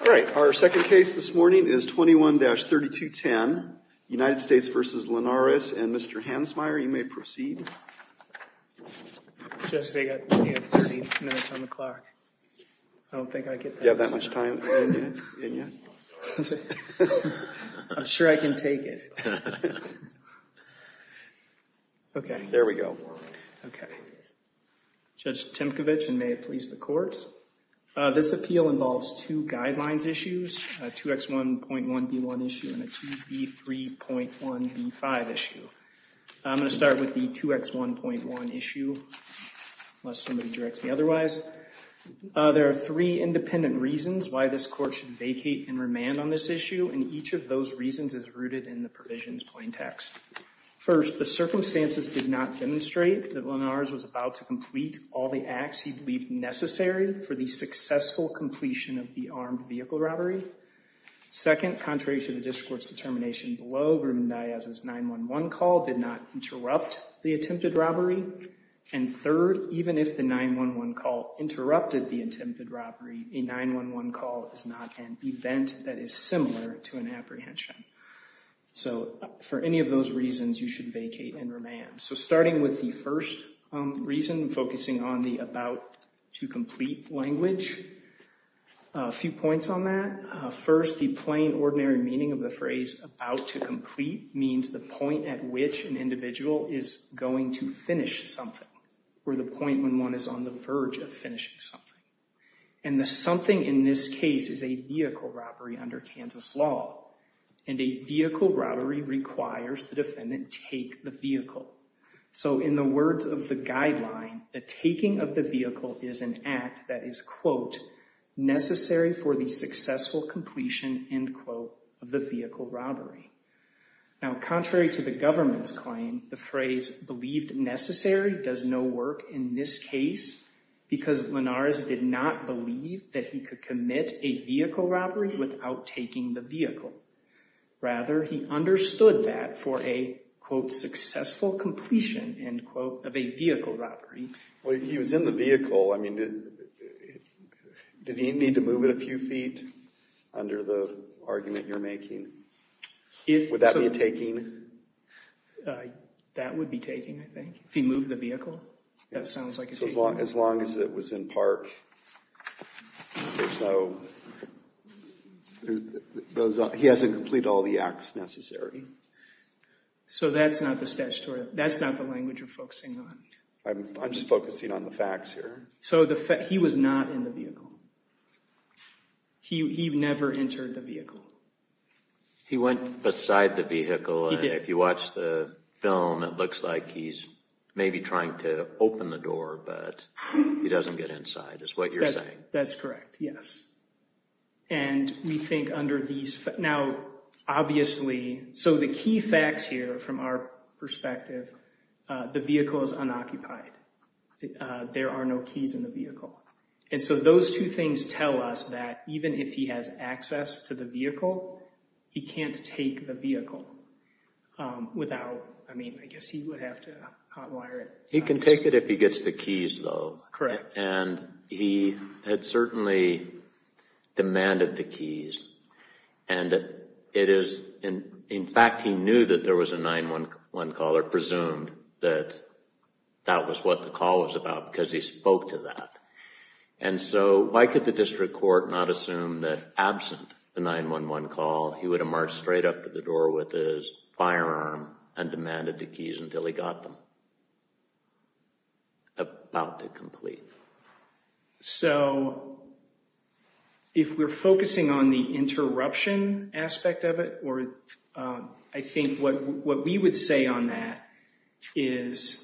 All right. Our second case this morning is 21-3210, United States v. Linares. And, Mr. Hansmeier, you may proceed. Judge, I can't proceed. No, it's on the clock. I don't think I get that. Do you have that much time in you? I'm sure I can take it. Okay. There we go. Okay. Judge Timkovich, and may it please the court, this appeal involves two guidelines issues, a 2X1.1B1 issue and a 2B3.1B5 issue. I'm going to start with the 2X1.1 issue, unless somebody directs me otherwise. There are three independent reasons why this court should vacate and remand on this issue, and each of those reasons is rooted in the provisions plaintext. First, the circumstances did not demonstrate that Linares was about to complete all the acts he believed necessary for the successful completion of the armed vehicle robbery. Second, contrary to the district court's determination below, Grubin-Diaz's 911 call did not interrupt the attempted robbery. And third, even if the 911 call interrupted the attempted robbery, a 911 call is not an event that is similar to an apprehension. So for any of those reasons, you should vacate and remand. So starting with the first reason, focusing on the about-to-complete language, a few points on that. First, the plain, ordinary meaning of the phrase about-to-complete means the point at which an individual is going to finish something, or the point when one is on the verge of finishing something. And the something in this case is a vehicle robbery under Kansas law, and a vehicle robbery requires the defendant take the vehicle. So in the words of the guideline, the taking of the vehicle is an act that is, quote, necessary for the successful completion, end quote, of the vehicle robbery. Now, contrary to the government's claim, the phrase believed necessary does no work in this case because Linares did not believe that he could commit a vehicle robbery without taking the vehicle. Rather, he understood that for a, quote, successful completion, end quote, of a vehicle robbery. Well, if he was in the vehicle, I mean, did he need to move it a few feet under the argument you're making? Would that be taking? That would be taking, I think, if he moved the vehicle. That sounds like it's taking. So as long as it was in park, there's no – he hasn't completed all the acts necessary. So that's not the statutory – that's not the language you're focusing on. I'm just focusing on the facts here. So he was not in the vehicle. He never entered the vehicle. He went beside the vehicle. He did. If you watch the film, it looks like he's maybe trying to open the door, but he doesn't get inside is what you're saying. That's correct, yes. And we think under these – now, obviously – so the key facts here from our perspective, the vehicle is unoccupied. There are no keys in the vehicle. And so those two things tell us that even if he has access to the vehicle, he can't take the vehicle without – I mean, I guess he would have to hotwire it. He can take it if he gets the keys, though. Correct. And he had certainly demanded the keys. And it is – in fact, he knew that there was a 911 call or presumed that that was what the call was about because he spoke to that. And so why could the district court not assume that absent the 911 call, he would have marched straight up to the door with his firearm and demanded the keys until he got them? About to complete. So if we're focusing on the interruption aspect of it, or I think what we would say on that is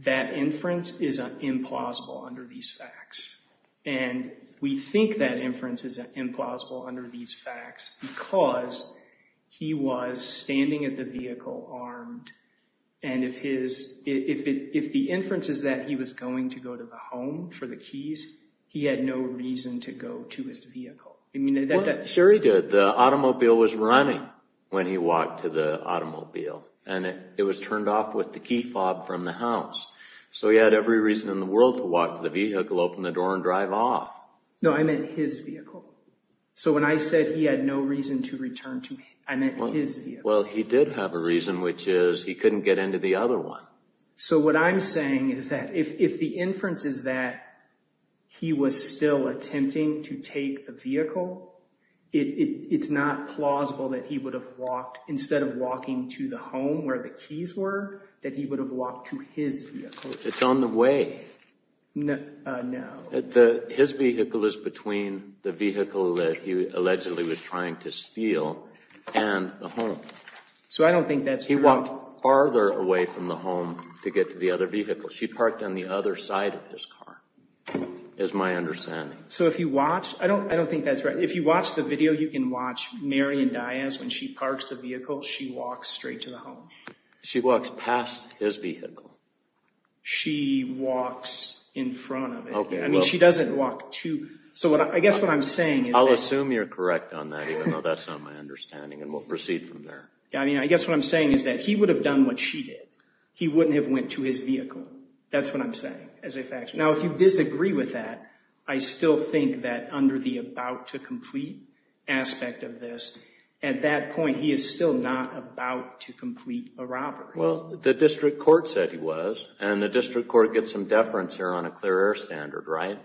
that inference is implausible under these facts. And we think that inference is implausible under these facts because he was standing at the vehicle armed. And if his – if the inference is that he was going to go to the home for the keys, he had no reason to go to his vehicle. I mean, that – Sure he did. The automobile was running when he walked to the automobile. And it was turned off with the key fob from the house. So he had every reason in the world to walk to the vehicle, open the door, and drive off. No, I meant his vehicle. So when I said he had no reason to return to – I meant his vehicle. Well, he did have a reason, which is he couldn't get into the other one. So what I'm saying is that if the inference is that he was still attempting to take the vehicle, it's not plausible that he would have walked – instead of walking to the home where the keys were, that he would have walked to his vehicle. It's on the way. No. His vehicle is between the vehicle that he allegedly was trying to steal and the home. So I don't think that's true. He walked farther away from the home to get to the other vehicle. She parked on the other side of his car, is my understanding. So if you watch – I don't think that's right. If you watch the video, you can watch Marion Diaz. When she parks the vehicle, she walks straight to the home. She walks past his vehicle. She walks in front of it. I mean, she doesn't walk to – so I guess what I'm saying is that – I'll assume you're correct on that, even though that's not my understanding, and we'll proceed from there. I mean, I guess what I'm saying is that he would have done what she did. He wouldn't have went to his vehicle. That's what I'm saying, as a fact. Now, if you disagree with that, I still think that under the about to complete aspect of this, at that point, he is still not about to complete a robbery. Well, the district court said he was, and the district court gets some deference here on a clear air standard, right?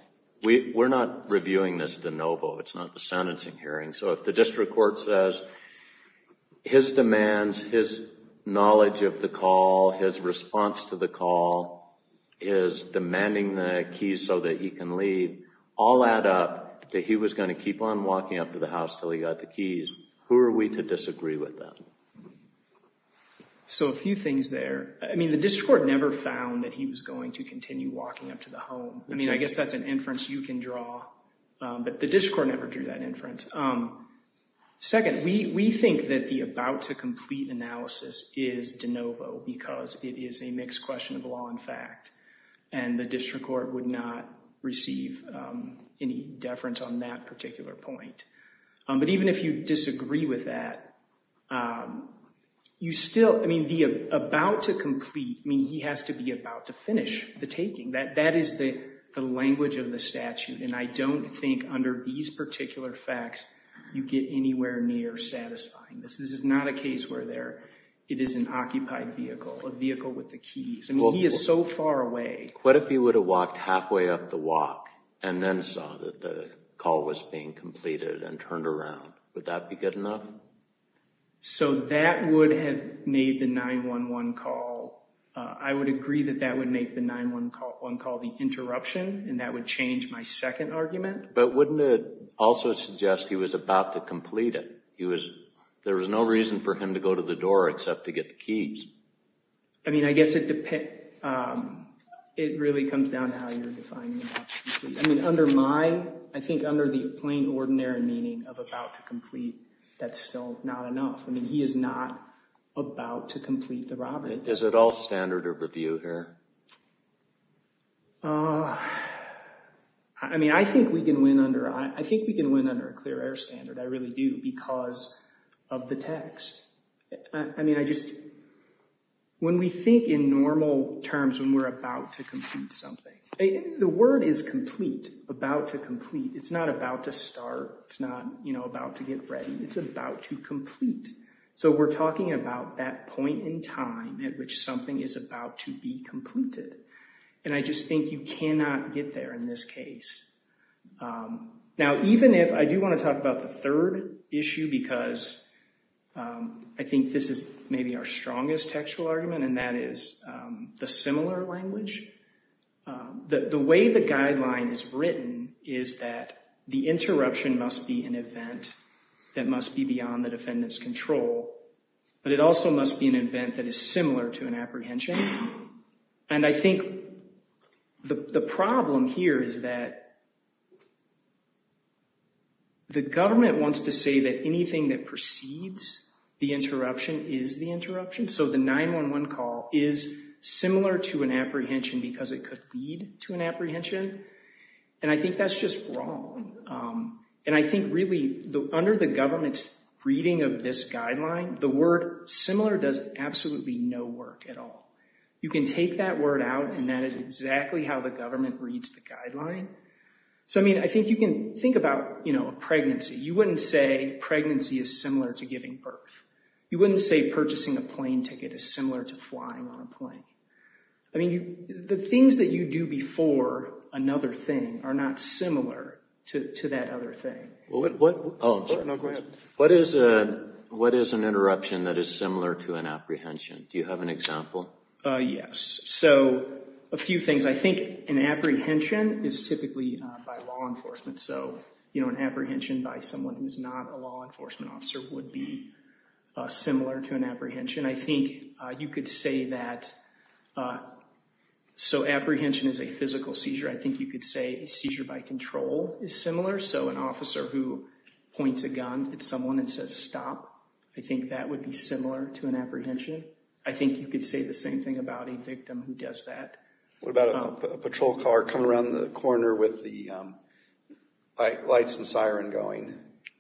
We're not reviewing this de novo. It's not the sentencing hearing. So if the district court says his demands, his knowledge of the call, his response to the call, his demanding the keys so that he can leave, all add up that he was going to keep on walking up to the house until he got the keys. Who are we to disagree with that? So a few things there. I mean, the district court never found that he was going to continue walking up to the home. I mean, I guess that's an inference you can draw. But the district court never drew that inference. Second, we think that the about to complete analysis is de novo because it is a mixed question of law and fact. And the district court would not receive any deference on that particular point. But even if you disagree with that, you still, I mean, the about to complete, I mean, he has to be about to finish the taking. That is the language of the statute. And I don't think under these particular facts you get anywhere near satisfying. This is not a case where it is an occupied vehicle, a vehicle with the keys. I mean, he is so far away. What if he would have walked halfway up the walk and then saw that the call was being completed and turned around? Would that be good enough? So that would have made the 911 call. I would agree that that would make the 911 call the interruption, and that would change my second argument. But wouldn't it also suggest he was about to complete it? There was no reason for him to go to the door except to get the keys. I mean, I guess it really comes down to how you're defining about to complete. I mean, under my, I think under the plain ordinary meaning of about to complete, that's still not enough. I mean, he is not about to complete the robbery. Is it all standard of review here? I mean, I think we can win under a clear air standard. I really do, because of the text. I mean, I just, when we think in normal terms when we're about to complete something, the word is complete, about to complete. It's not about to start. It's not about to get ready. It's about to complete. So we're talking about that point in time at which something is about to be completed. And I just think you cannot get there in this case. Now, even if, I do want to talk about the third issue, because I think this is maybe our strongest textual argument, and that is the similar language. The way the guideline is written is that the interruption must be an event that must be beyond the defendant's control. But it also must be an event that is similar to an apprehension. And I think the problem here is that the government wants to say that anything that precedes the interruption is the interruption. So the 911 call is similar to an apprehension because it could lead to an apprehension. And I think that's just wrong. And I think, really, under the government's reading of this guideline, the word similar does absolutely no work at all. You can take that word out, and that is exactly how the government reads the guideline. So, I mean, I think you can think about, you know, a pregnancy. You wouldn't say pregnancy is similar to giving birth. You wouldn't say purchasing a plane ticket is similar to flying on a plane. I mean, the things that you do before another thing are not similar to that other thing. What is an interruption that is similar to an apprehension? Do you have an example? Yes. So, a few things. I think an apprehension is typically by law enforcement. So, you know, an apprehension by someone who's not a law enforcement officer would be similar to an apprehension. I think you could say that so apprehension is a physical seizure. I think you could say a seizure by control is similar. So an officer who points a gun at someone and says stop, I think that would be similar to an apprehension. I think you could say the same thing about a victim who does that. What about a patrol car coming around the corner with the lights and siren going?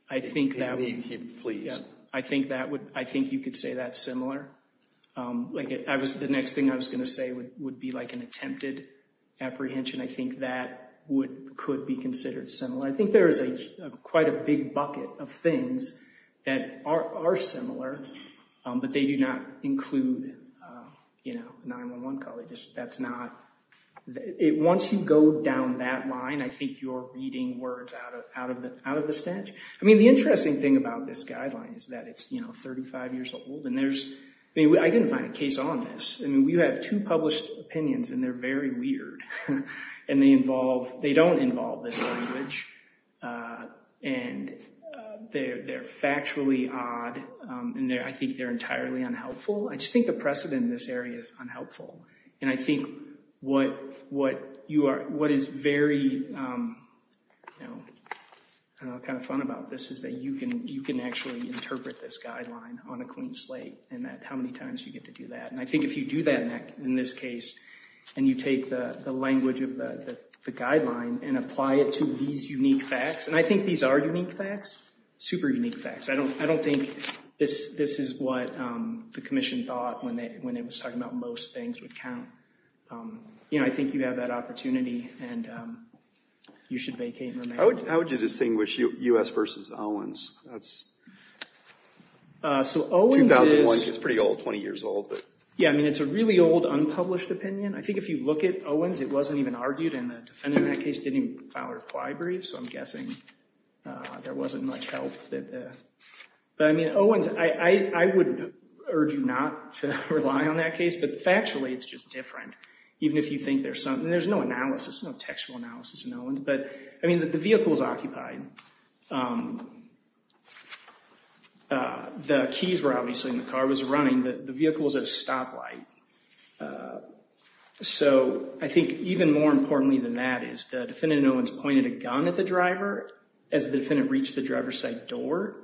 I think that would. Please. I think you could say that's similar. The next thing I was going to say would be like an attempted apprehension. I think that could be considered similar. I think there is quite a big bucket of things that are similar, but they do not include, you know, 911 call. That's not, once you go down that line, I think you're reading words out of the stench. I mean, the interesting thing about this guideline is that it's, you know, 35 years old. And there's, I mean, I didn't find a case on this. I mean, we have two published opinions, and they're very weird. And they involve, they don't involve this language. And they're factually odd. And I think they're entirely unhelpful. I just think the precedent in this area is unhelpful. And I think what is very, you know, kind of fun about this is that you can actually interpret this guideline on a clean slate, and how many times you get to do that. And I think if you do that in this case, and you take the language of the guideline and apply it to these unique facts, and I think these are unique facts, super unique facts. I don't think this is what the commission thought when they were talking about most things would count. You know, I think you have that opportunity, and you should vacate and remain. How would you distinguish U.S. versus Owens? That's 2001. It's pretty old, 20 years old. Yeah, I mean, it's a really old unpublished opinion. I think if you look at Owens, it wasn't even argued. And the defendant in that case didn't even file a reply brief. So I'm guessing there wasn't much help. But, I mean, Owens, I would urge you not to rely on that case. But factually, it's just different, even if you think there's something. There's no analysis, no textual analysis in Owens. But, I mean, the vehicle was occupied. The keys were obviously in the car. It was running. The vehicle was at a stoplight. So I think even more importantly than that is the defendant in Owens pointed a gun at the driver as the defendant reached the driver's side door.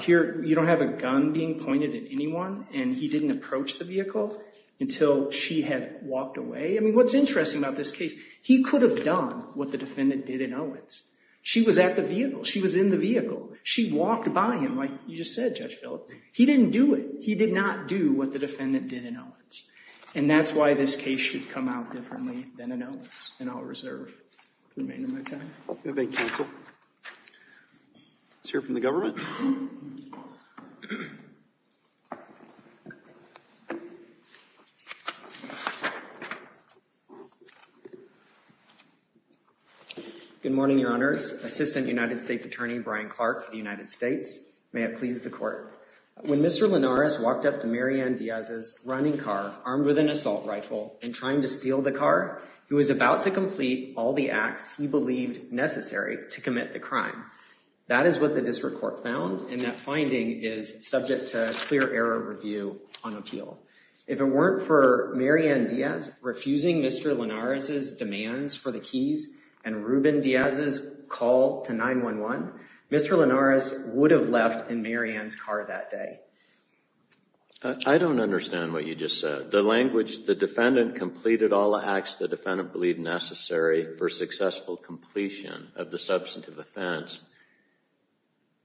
Here, you don't have a gun being pointed at anyone, and he didn't approach the vehicle until she had walked away. I mean, what's interesting about this case, he could have done what the defendant did in Owens. She was at the vehicle. She was in the vehicle. She walked by him, like you just said, Judge Phillips. He didn't do it. And that's why this case should come out differently than in Owens. And I'll reserve the remainder of my time. Thank you, counsel. Let's hear from the government. Good morning, Your Honors. Assistant United States Attorney Brian Clark for the United States. May it please the Court. When Mr. Linares walked up to Mary Ann Diaz's running car armed with an assault rifle and trying to steal the car, he was about to complete all the acts he believed necessary to commit the crime. That is what the district court found, and that finding is subject to clear error review on appeal. If it weren't for Mary Ann Diaz refusing Mr. Linares's demands for the keys and Ruben Diaz's call to 911, Mr. Linares would have left in Mary Ann's car that day. I don't understand what you just said. The language, the defendant completed all the acts the defendant believed necessary for successful completion of the substantive offense.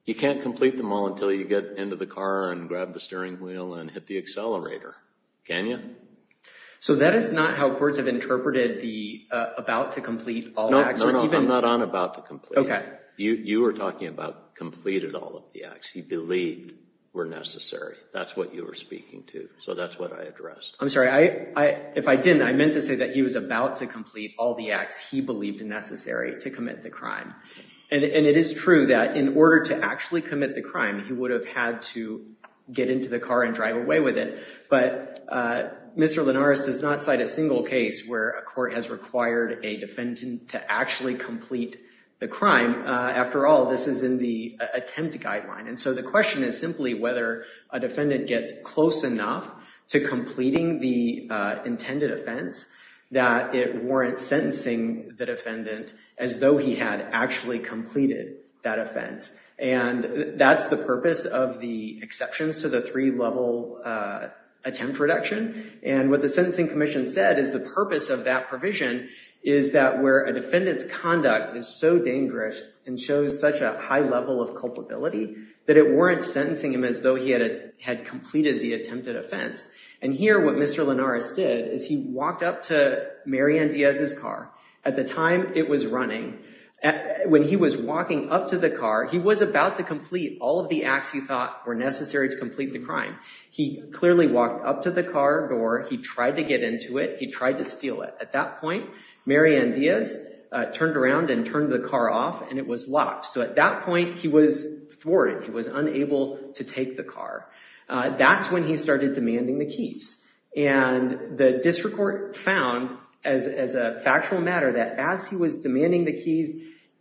You can't complete them all until you get into the car and grab the steering wheel and hit the accelerator. Can you? So that is not how courts have interpreted the about to complete all acts. No, I'm not on about to complete. You were talking about completed all of the acts he believed were necessary. That's what you were speaking to. So that's what I addressed. I'm sorry. If I didn't, I meant to say that he was about to complete all the acts he believed necessary to commit the crime. And it is true that in order to actually commit the crime, he would have had to get into the car and drive away with it. But Mr. Linares does not cite a single case where a court has required a defendant to actually complete the crime. After all, this is in the attempt guideline. And so the question is simply whether a defendant gets close enough to completing the intended offense that it warrants sentencing the defendant as though he had actually completed that offense. And that's the purpose of the exceptions to the three-level attempt reduction. And what the Sentencing Commission said is the purpose of that provision is that where a defendant's conduct is so dangerous and shows such a high level of culpability that it warrants sentencing him as though he had completed the attempted offense. And here what Mr. Linares did is he walked up to Marian Diaz's car. At the time, it was running. When he was walking up to the car, he was about to complete all of the acts he thought were necessary to complete the crime. He clearly walked up to the car door. He tried to get into it. He tried to steal it. At that point, Marian Diaz turned around and turned the car off, and it was locked. So at that point, he was thwarted. He was unable to take the car. That's when he started demanding the keys. And the district court found, as a factual matter, that as he was demanding the keys,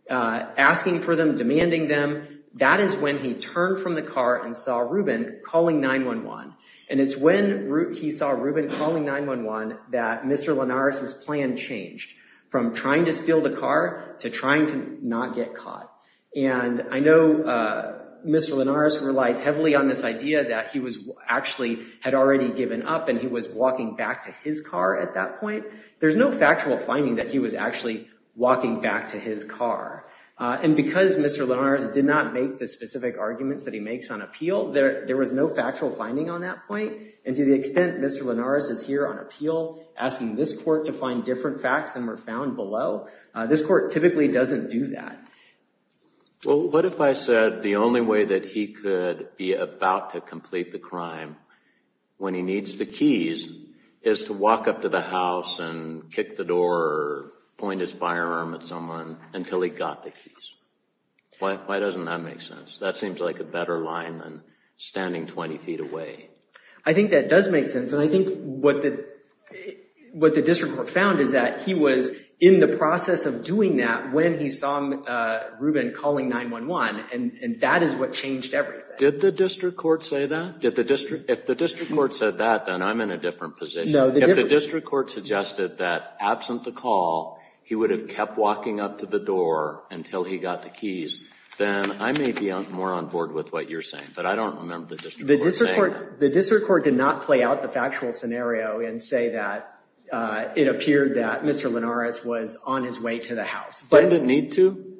asking for them, demanding them, that is when he turned from the car and saw Ruben calling 911. And it's when he saw Ruben calling 911 that Mr. Linares's plan changed from trying to steal the car to trying to not get caught. And I know Mr. Linares relies heavily on this idea that he actually had already given up and he was walking back to his car at that point. There's no factual finding that he was actually walking back to his car. And because Mr. Linares did not make the specific arguments that he makes on appeal, there was no factual finding on that point. And to the extent Mr. Linares is here on appeal asking this court to find different facts than were found below, this court typically doesn't do that. Well, what if I said the only way that he could be about to complete the crime when he needs the keys is to walk up to the house and kick the door or point his firearm at someone until he got the keys? Why doesn't that make sense? That seems like a better line than standing 20 feet away. I think that does make sense. And I think what the district court found is that he was in the process of doing that when he saw Ruben calling 911. And that is what changed everything. Did the district court say that? If the district court said that, then I'm in a different position. If the district court suggested that absent the call, he would have kept walking up to the door until he got the keys, then I may be more on board with what you're saying. But I don't remember the district court saying that. The district court did not play out the factual scenario and say that it appeared that Mr. Linares was on his way to the house. He didn't need to?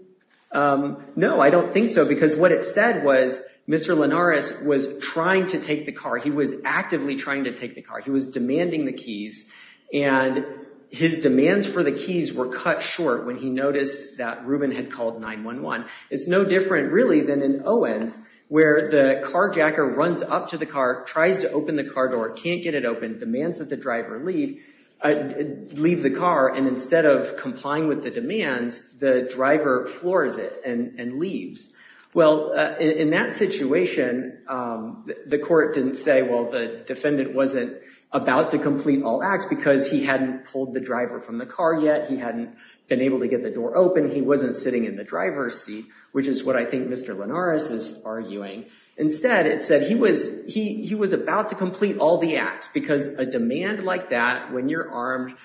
No, I don't think so. Because what it said was Mr. Linares was trying to take the car. He was actively trying to take the car. He was demanding the keys. And his demands for the keys were cut short when he noticed that Ruben had called 911. It's no different, really, than in Owens where the carjacker runs up to the car, tries to open the car door, can't get it open, demands that the driver leave the car. And instead of complying with the demands, the driver floors it and leaves. Well, in that situation, the court didn't say, well, the defendant wasn't about to complete all acts because he hadn't pulled the driver from the car yet. He hadn't been able to get the door open. He wasn't sitting in the driver's seat, which is what I think Mr. Linares is arguing. Instead, it said he was about to complete all the acts because a demand like that when you're armed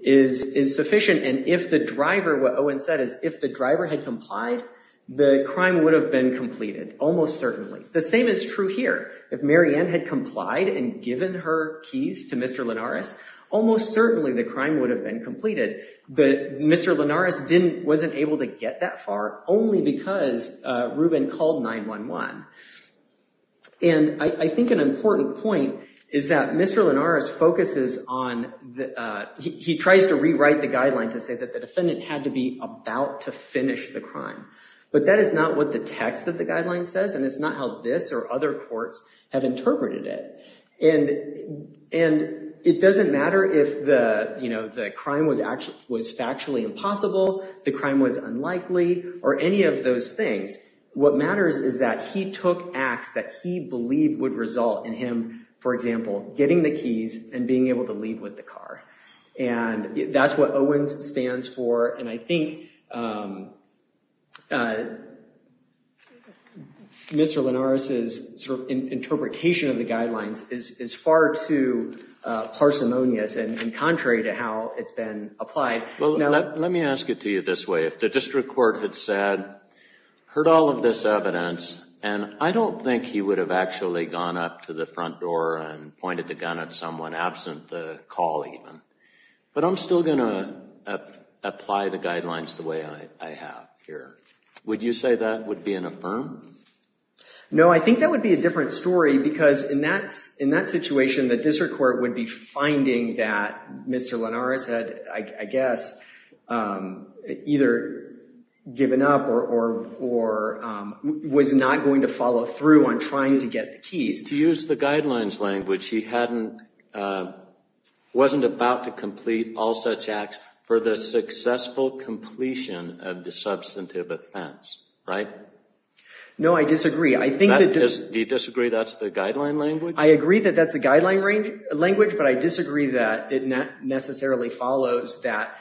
is sufficient. And if the driver, what Owens said, is if the driver had complied, the crime would have been completed, almost certainly. The same is true here. If Mary Ann had complied and given her keys to Mr. Linares, almost certainly the crime would have been completed. But Mr. Linares wasn't able to get that far only because Ruben called 911. And I think an important point is that Mr. Linares focuses on, he tries to rewrite the guideline to say that the defendant had to be about to finish the crime. But that is not what the text of the guideline says, and it's not how this or other courts have interpreted it. And it doesn't matter if the crime was factually impossible, the crime was unlikely, or any of those things. What matters is that he took acts that he believed would result in him, for example, getting the keys and being able to leave with the car. And that's what Owens stands for. And I think Mr. Linares' interpretation of the guidelines is far too parsimonious and contrary to how it's been applied. Well, let me ask it to you this way. If the district court had said, heard all of this evidence, and I don't think he would have actually gone up to the front door and pointed the gun at someone, absent the call even. But I'm still going to apply the guidelines the way I have here. Would you say that would be an affirm? No, I think that would be a different story. Because in that situation, the district court would be finding that Mr. Linares had, I guess, either given up or was not going to follow through on trying to get the keys. To use the guidelines language, he wasn't about to complete all such acts for the successful completion of the substantive offense, right? No, I disagree. Do you disagree that's the guideline language? I agree that that's a guideline language, but I disagree that it necessarily follows that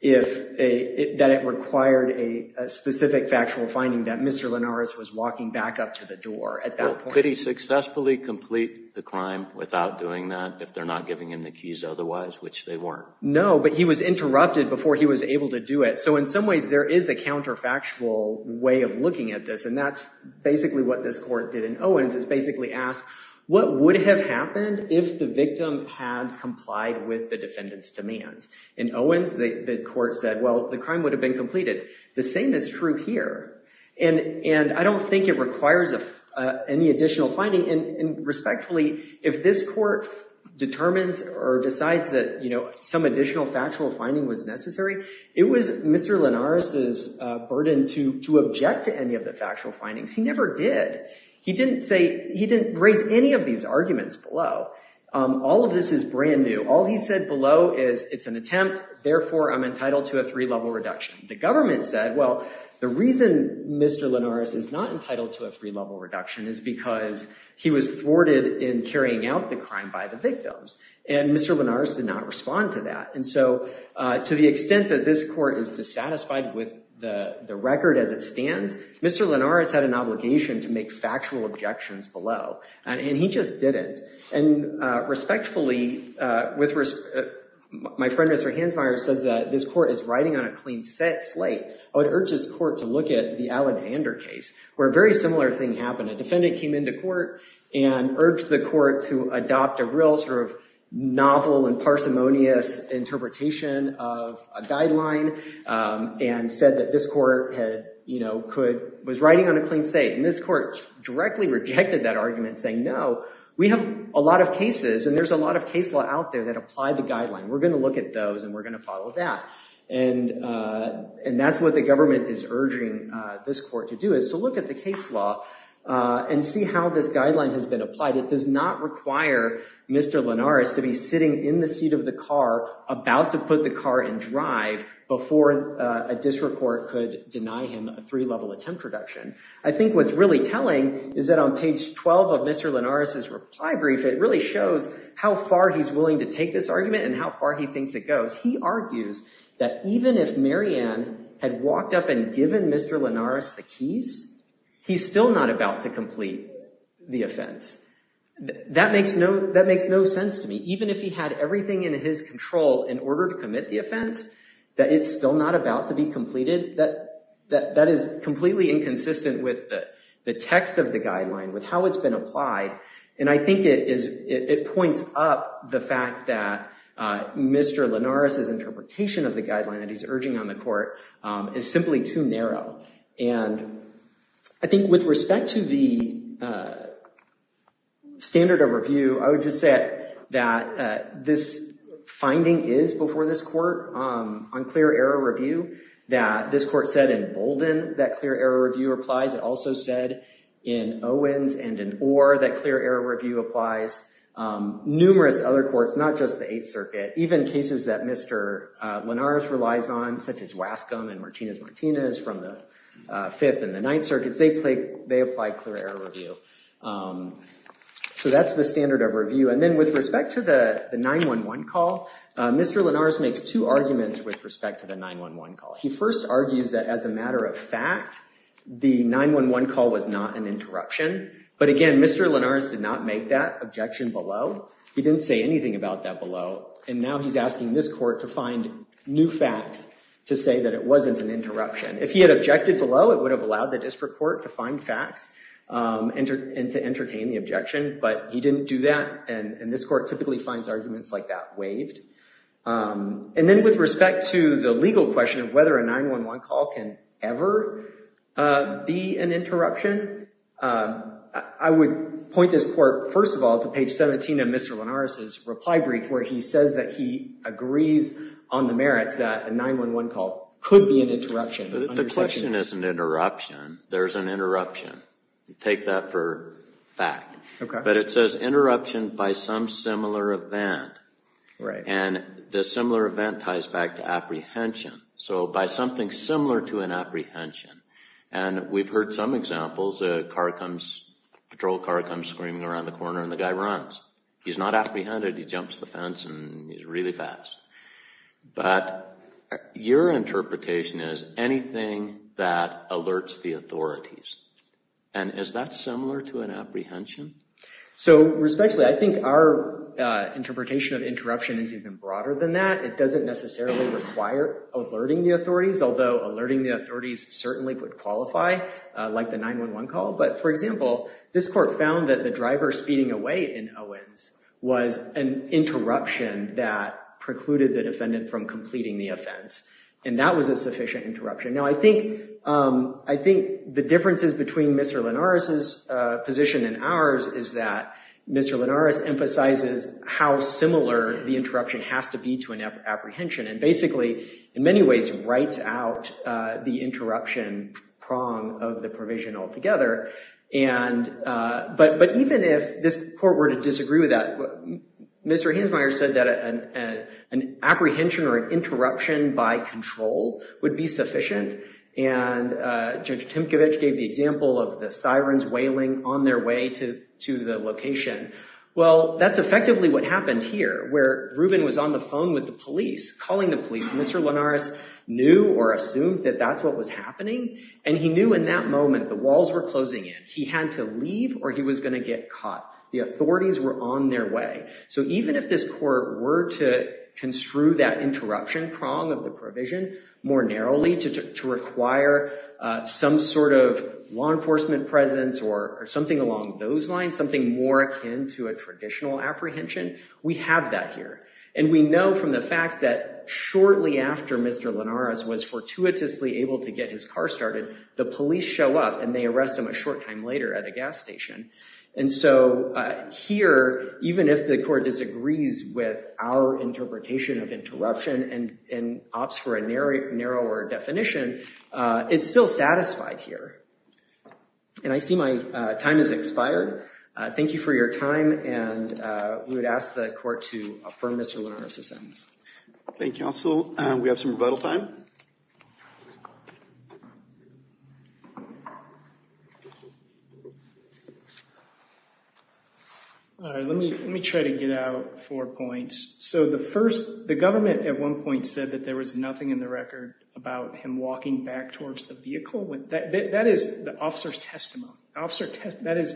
it required a specific factual finding that Mr. Linares was walking back up to the door at that point. Could he successfully complete the crime without doing that if they're not giving him the keys otherwise, which they weren't? No, but he was interrupted before he was able to do it. So in some ways, there is a counterfactual way of looking at this. And that's basically what this court did in Owens. It basically asked, what would have happened if the victim had complied with the defendant's demands? In Owens, the court said, well, the crime would have been completed. The same is true here. And I don't think it requires any additional finding. And respectfully, if this court determines or decides that some additional factual finding was necessary, it was Mr. Linares' burden to object to any of the factual findings. He never did. He didn't raise any of these arguments below. All of this is brand new. All he said below is, it's an attempt. Therefore, I'm entitled to a three-level reduction. The government said, well, the reason Mr. Linares is not entitled to a three-level reduction is because he was thwarted in carrying out the crime by the victims. And Mr. Linares did not respond to that. And so to the extent that this court is dissatisfied with the record as it stands, Mr. Linares had an obligation to make factual objections below. And he just didn't. And respectfully, my friend Mr. Hansmeier says that this court is riding on a clean slate. I would urge this court to look at the Alexander case, where a very similar thing happened. A defendant came into court and urged the court to adopt a real novel and parsimonious interpretation of a guideline and said that this court was riding on a clean slate. And this court directly rejected that argument, saying, no, we have a lot of cases. And there's a lot of case law out there that apply the guideline. We're going to look at those. And we're going to follow that. And that's what the government is urging this court to do, is to look at the case law and see how this guideline has been applied. It does not require Mr. Linares to be sitting in the seat of the car about to put the car in drive before a district court could deny him a three-level attempt reduction. I think what's really telling is that on page 12 of Mr. Linares' reply brief, it really shows how far he's willing to take this argument and how far he thinks it goes. He argues that even if Marianne had walked up and given Mr. Linares the keys, he's still not about to complete the offense. That makes no sense to me. He argues that even if he had everything in his control in order to commit the offense, that it's still not about to be completed. That is completely inconsistent with the text of the guideline, with how it's been applied. And I think it points up the fact that Mr. Linares' interpretation of the guideline that he's urging on the court is simply too narrow. And I think with respect to the standard of review, I would just say that this finding is, before this court, on clear error review, that this court said in Bolden that clear error review applies. It also said in Owens and in Orr that clear error review applies. Numerous other courts, not just the Eighth Circuit, even cases that Mr. Linares relies on, such as Wascom and Martinez-Martinez from the Fifth and the Ninth Circuits, they apply clear error review. So that's the standard of review. And then with respect to the 911 call, Mr. Linares makes two arguments with respect to the 911 call. He first argues that as a matter of fact, the 911 call was not an interruption. But again, Mr. Linares did not make that objection below. He didn't say anything about that below. And now he's asking this court to find new facts to say that it wasn't an interruption. If he had objected below, it would have allowed the district court to find facts and to entertain the objection. But he didn't do that, and this court typically finds arguments like that waived. And then with respect to the legal question of whether a 911 call can ever be an interruption, I would point this court, first of all, to page 17 of Mr. Linares' reply brief where he says that he agrees on the merits that a 911 call could be an interruption. The question isn't interruption. There's an interruption. Take that for fact. But it says interruption by some similar event. And this similar event ties back to apprehension. So by something similar to an apprehension. And we've heard some examples. A patrol car comes screaming around the corner, and the guy runs. He's not apprehended. He jumps the fence, and he's really fast. But your interpretation is anything that alerts the authorities. And is that similar to an apprehension? So respectfully, I think our interpretation of interruption is even broader than that. It doesn't necessarily require alerting the authorities, although alerting the authorities certainly would qualify, like the 911 call. But, for example, this court found that the driver speeding away in Owens was an interruption that precluded the defendant from completing the offense. And that was a sufficient interruption. Now, I think the differences between Mr. Linares' position and ours is that Mr. Linares emphasizes how similar the interruption has to be to an apprehension. And basically, in many ways, writes out the interruption prong of the provision altogether. But even if this court were to disagree with that, Mr. Hansmeier said that an apprehension or an interruption by control would be sufficient. And Judge Timkovich gave the example of the sirens wailing on their way to the location. Well, that's effectively what happened here, where Rubin was on the phone with the police, calling the police. Mr. Linares knew or assumed that that's what was happening. And he knew in that moment the walls were closing in. He had to leave or he was going to get caught. The authorities were on their way. So even if this court were to construe that interruption prong of the provision more narrowly to require some sort of law enforcement presence or something along those lines, something more akin to a traditional apprehension, we have that here. And we know from the facts that shortly after Mr. Linares was fortuitously able to get his car started, the police show up and they arrest him a short time later at a gas station. And so here, even if the court disagrees with our interpretation of interruption and opts for a narrower definition, it's still satisfied here. And I see my time has expired. Thank you for your time. And we would ask the court to affirm Mr. Linares' sentence. Thank you, counsel. We have some rebuttal time. All right. Let me try to get out four points. So the first, the government at one point said that there was nothing in the record about him walking back towards the vehicle. That is the officer's testimony. That is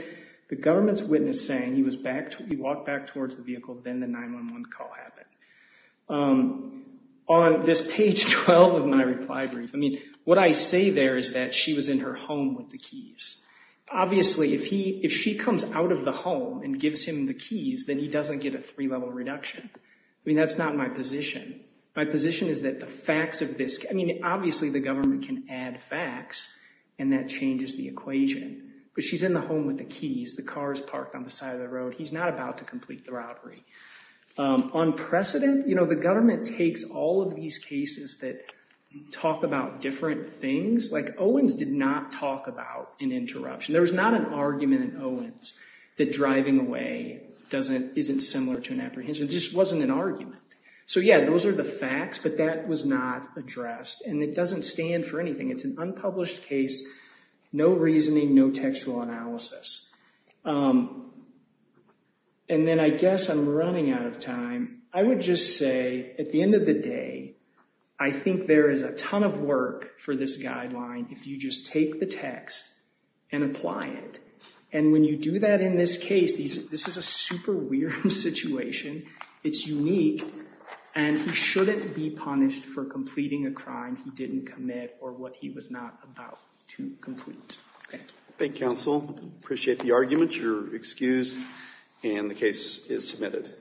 the government's witness saying he walked back towards the vehicle, then the 911 call happened. On this page 12 of my reply brief, I mean, what I say there is that she was in her home with the keys. Obviously, if she comes out of the home and gives him the keys, then he doesn't get a three-level reduction. I mean, that's not my position. My position is that the facts of this, I mean, obviously the government can add facts and that changes the equation. But she's in the home with the keys. The car is parked on the side of the road. He's not about to complete the robbery. On precedent, you know, the government takes all of these cases that talk about different things. Like Owens did not talk about an interruption. There was not an argument in Owens that driving away isn't similar to an apprehension. It just wasn't an argument. So, yeah, those are the facts, but that was not addressed, and it doesn't stand for anything. It's an unpublished case, no reasoning, no textual analysis. And then I guess I'm running out of time. I would just say at the end of the day, I think there is a ton of work for this guideline if you just take the text and apply it. And when you do that in this case, this is a super weird situation. It's unique, and he shouldn't be punished for completing a crime he didn't commit or what he was not about to complete. Thank you. Thank you, counsel. I appreciate the argument. You're excused, and the case is submitted.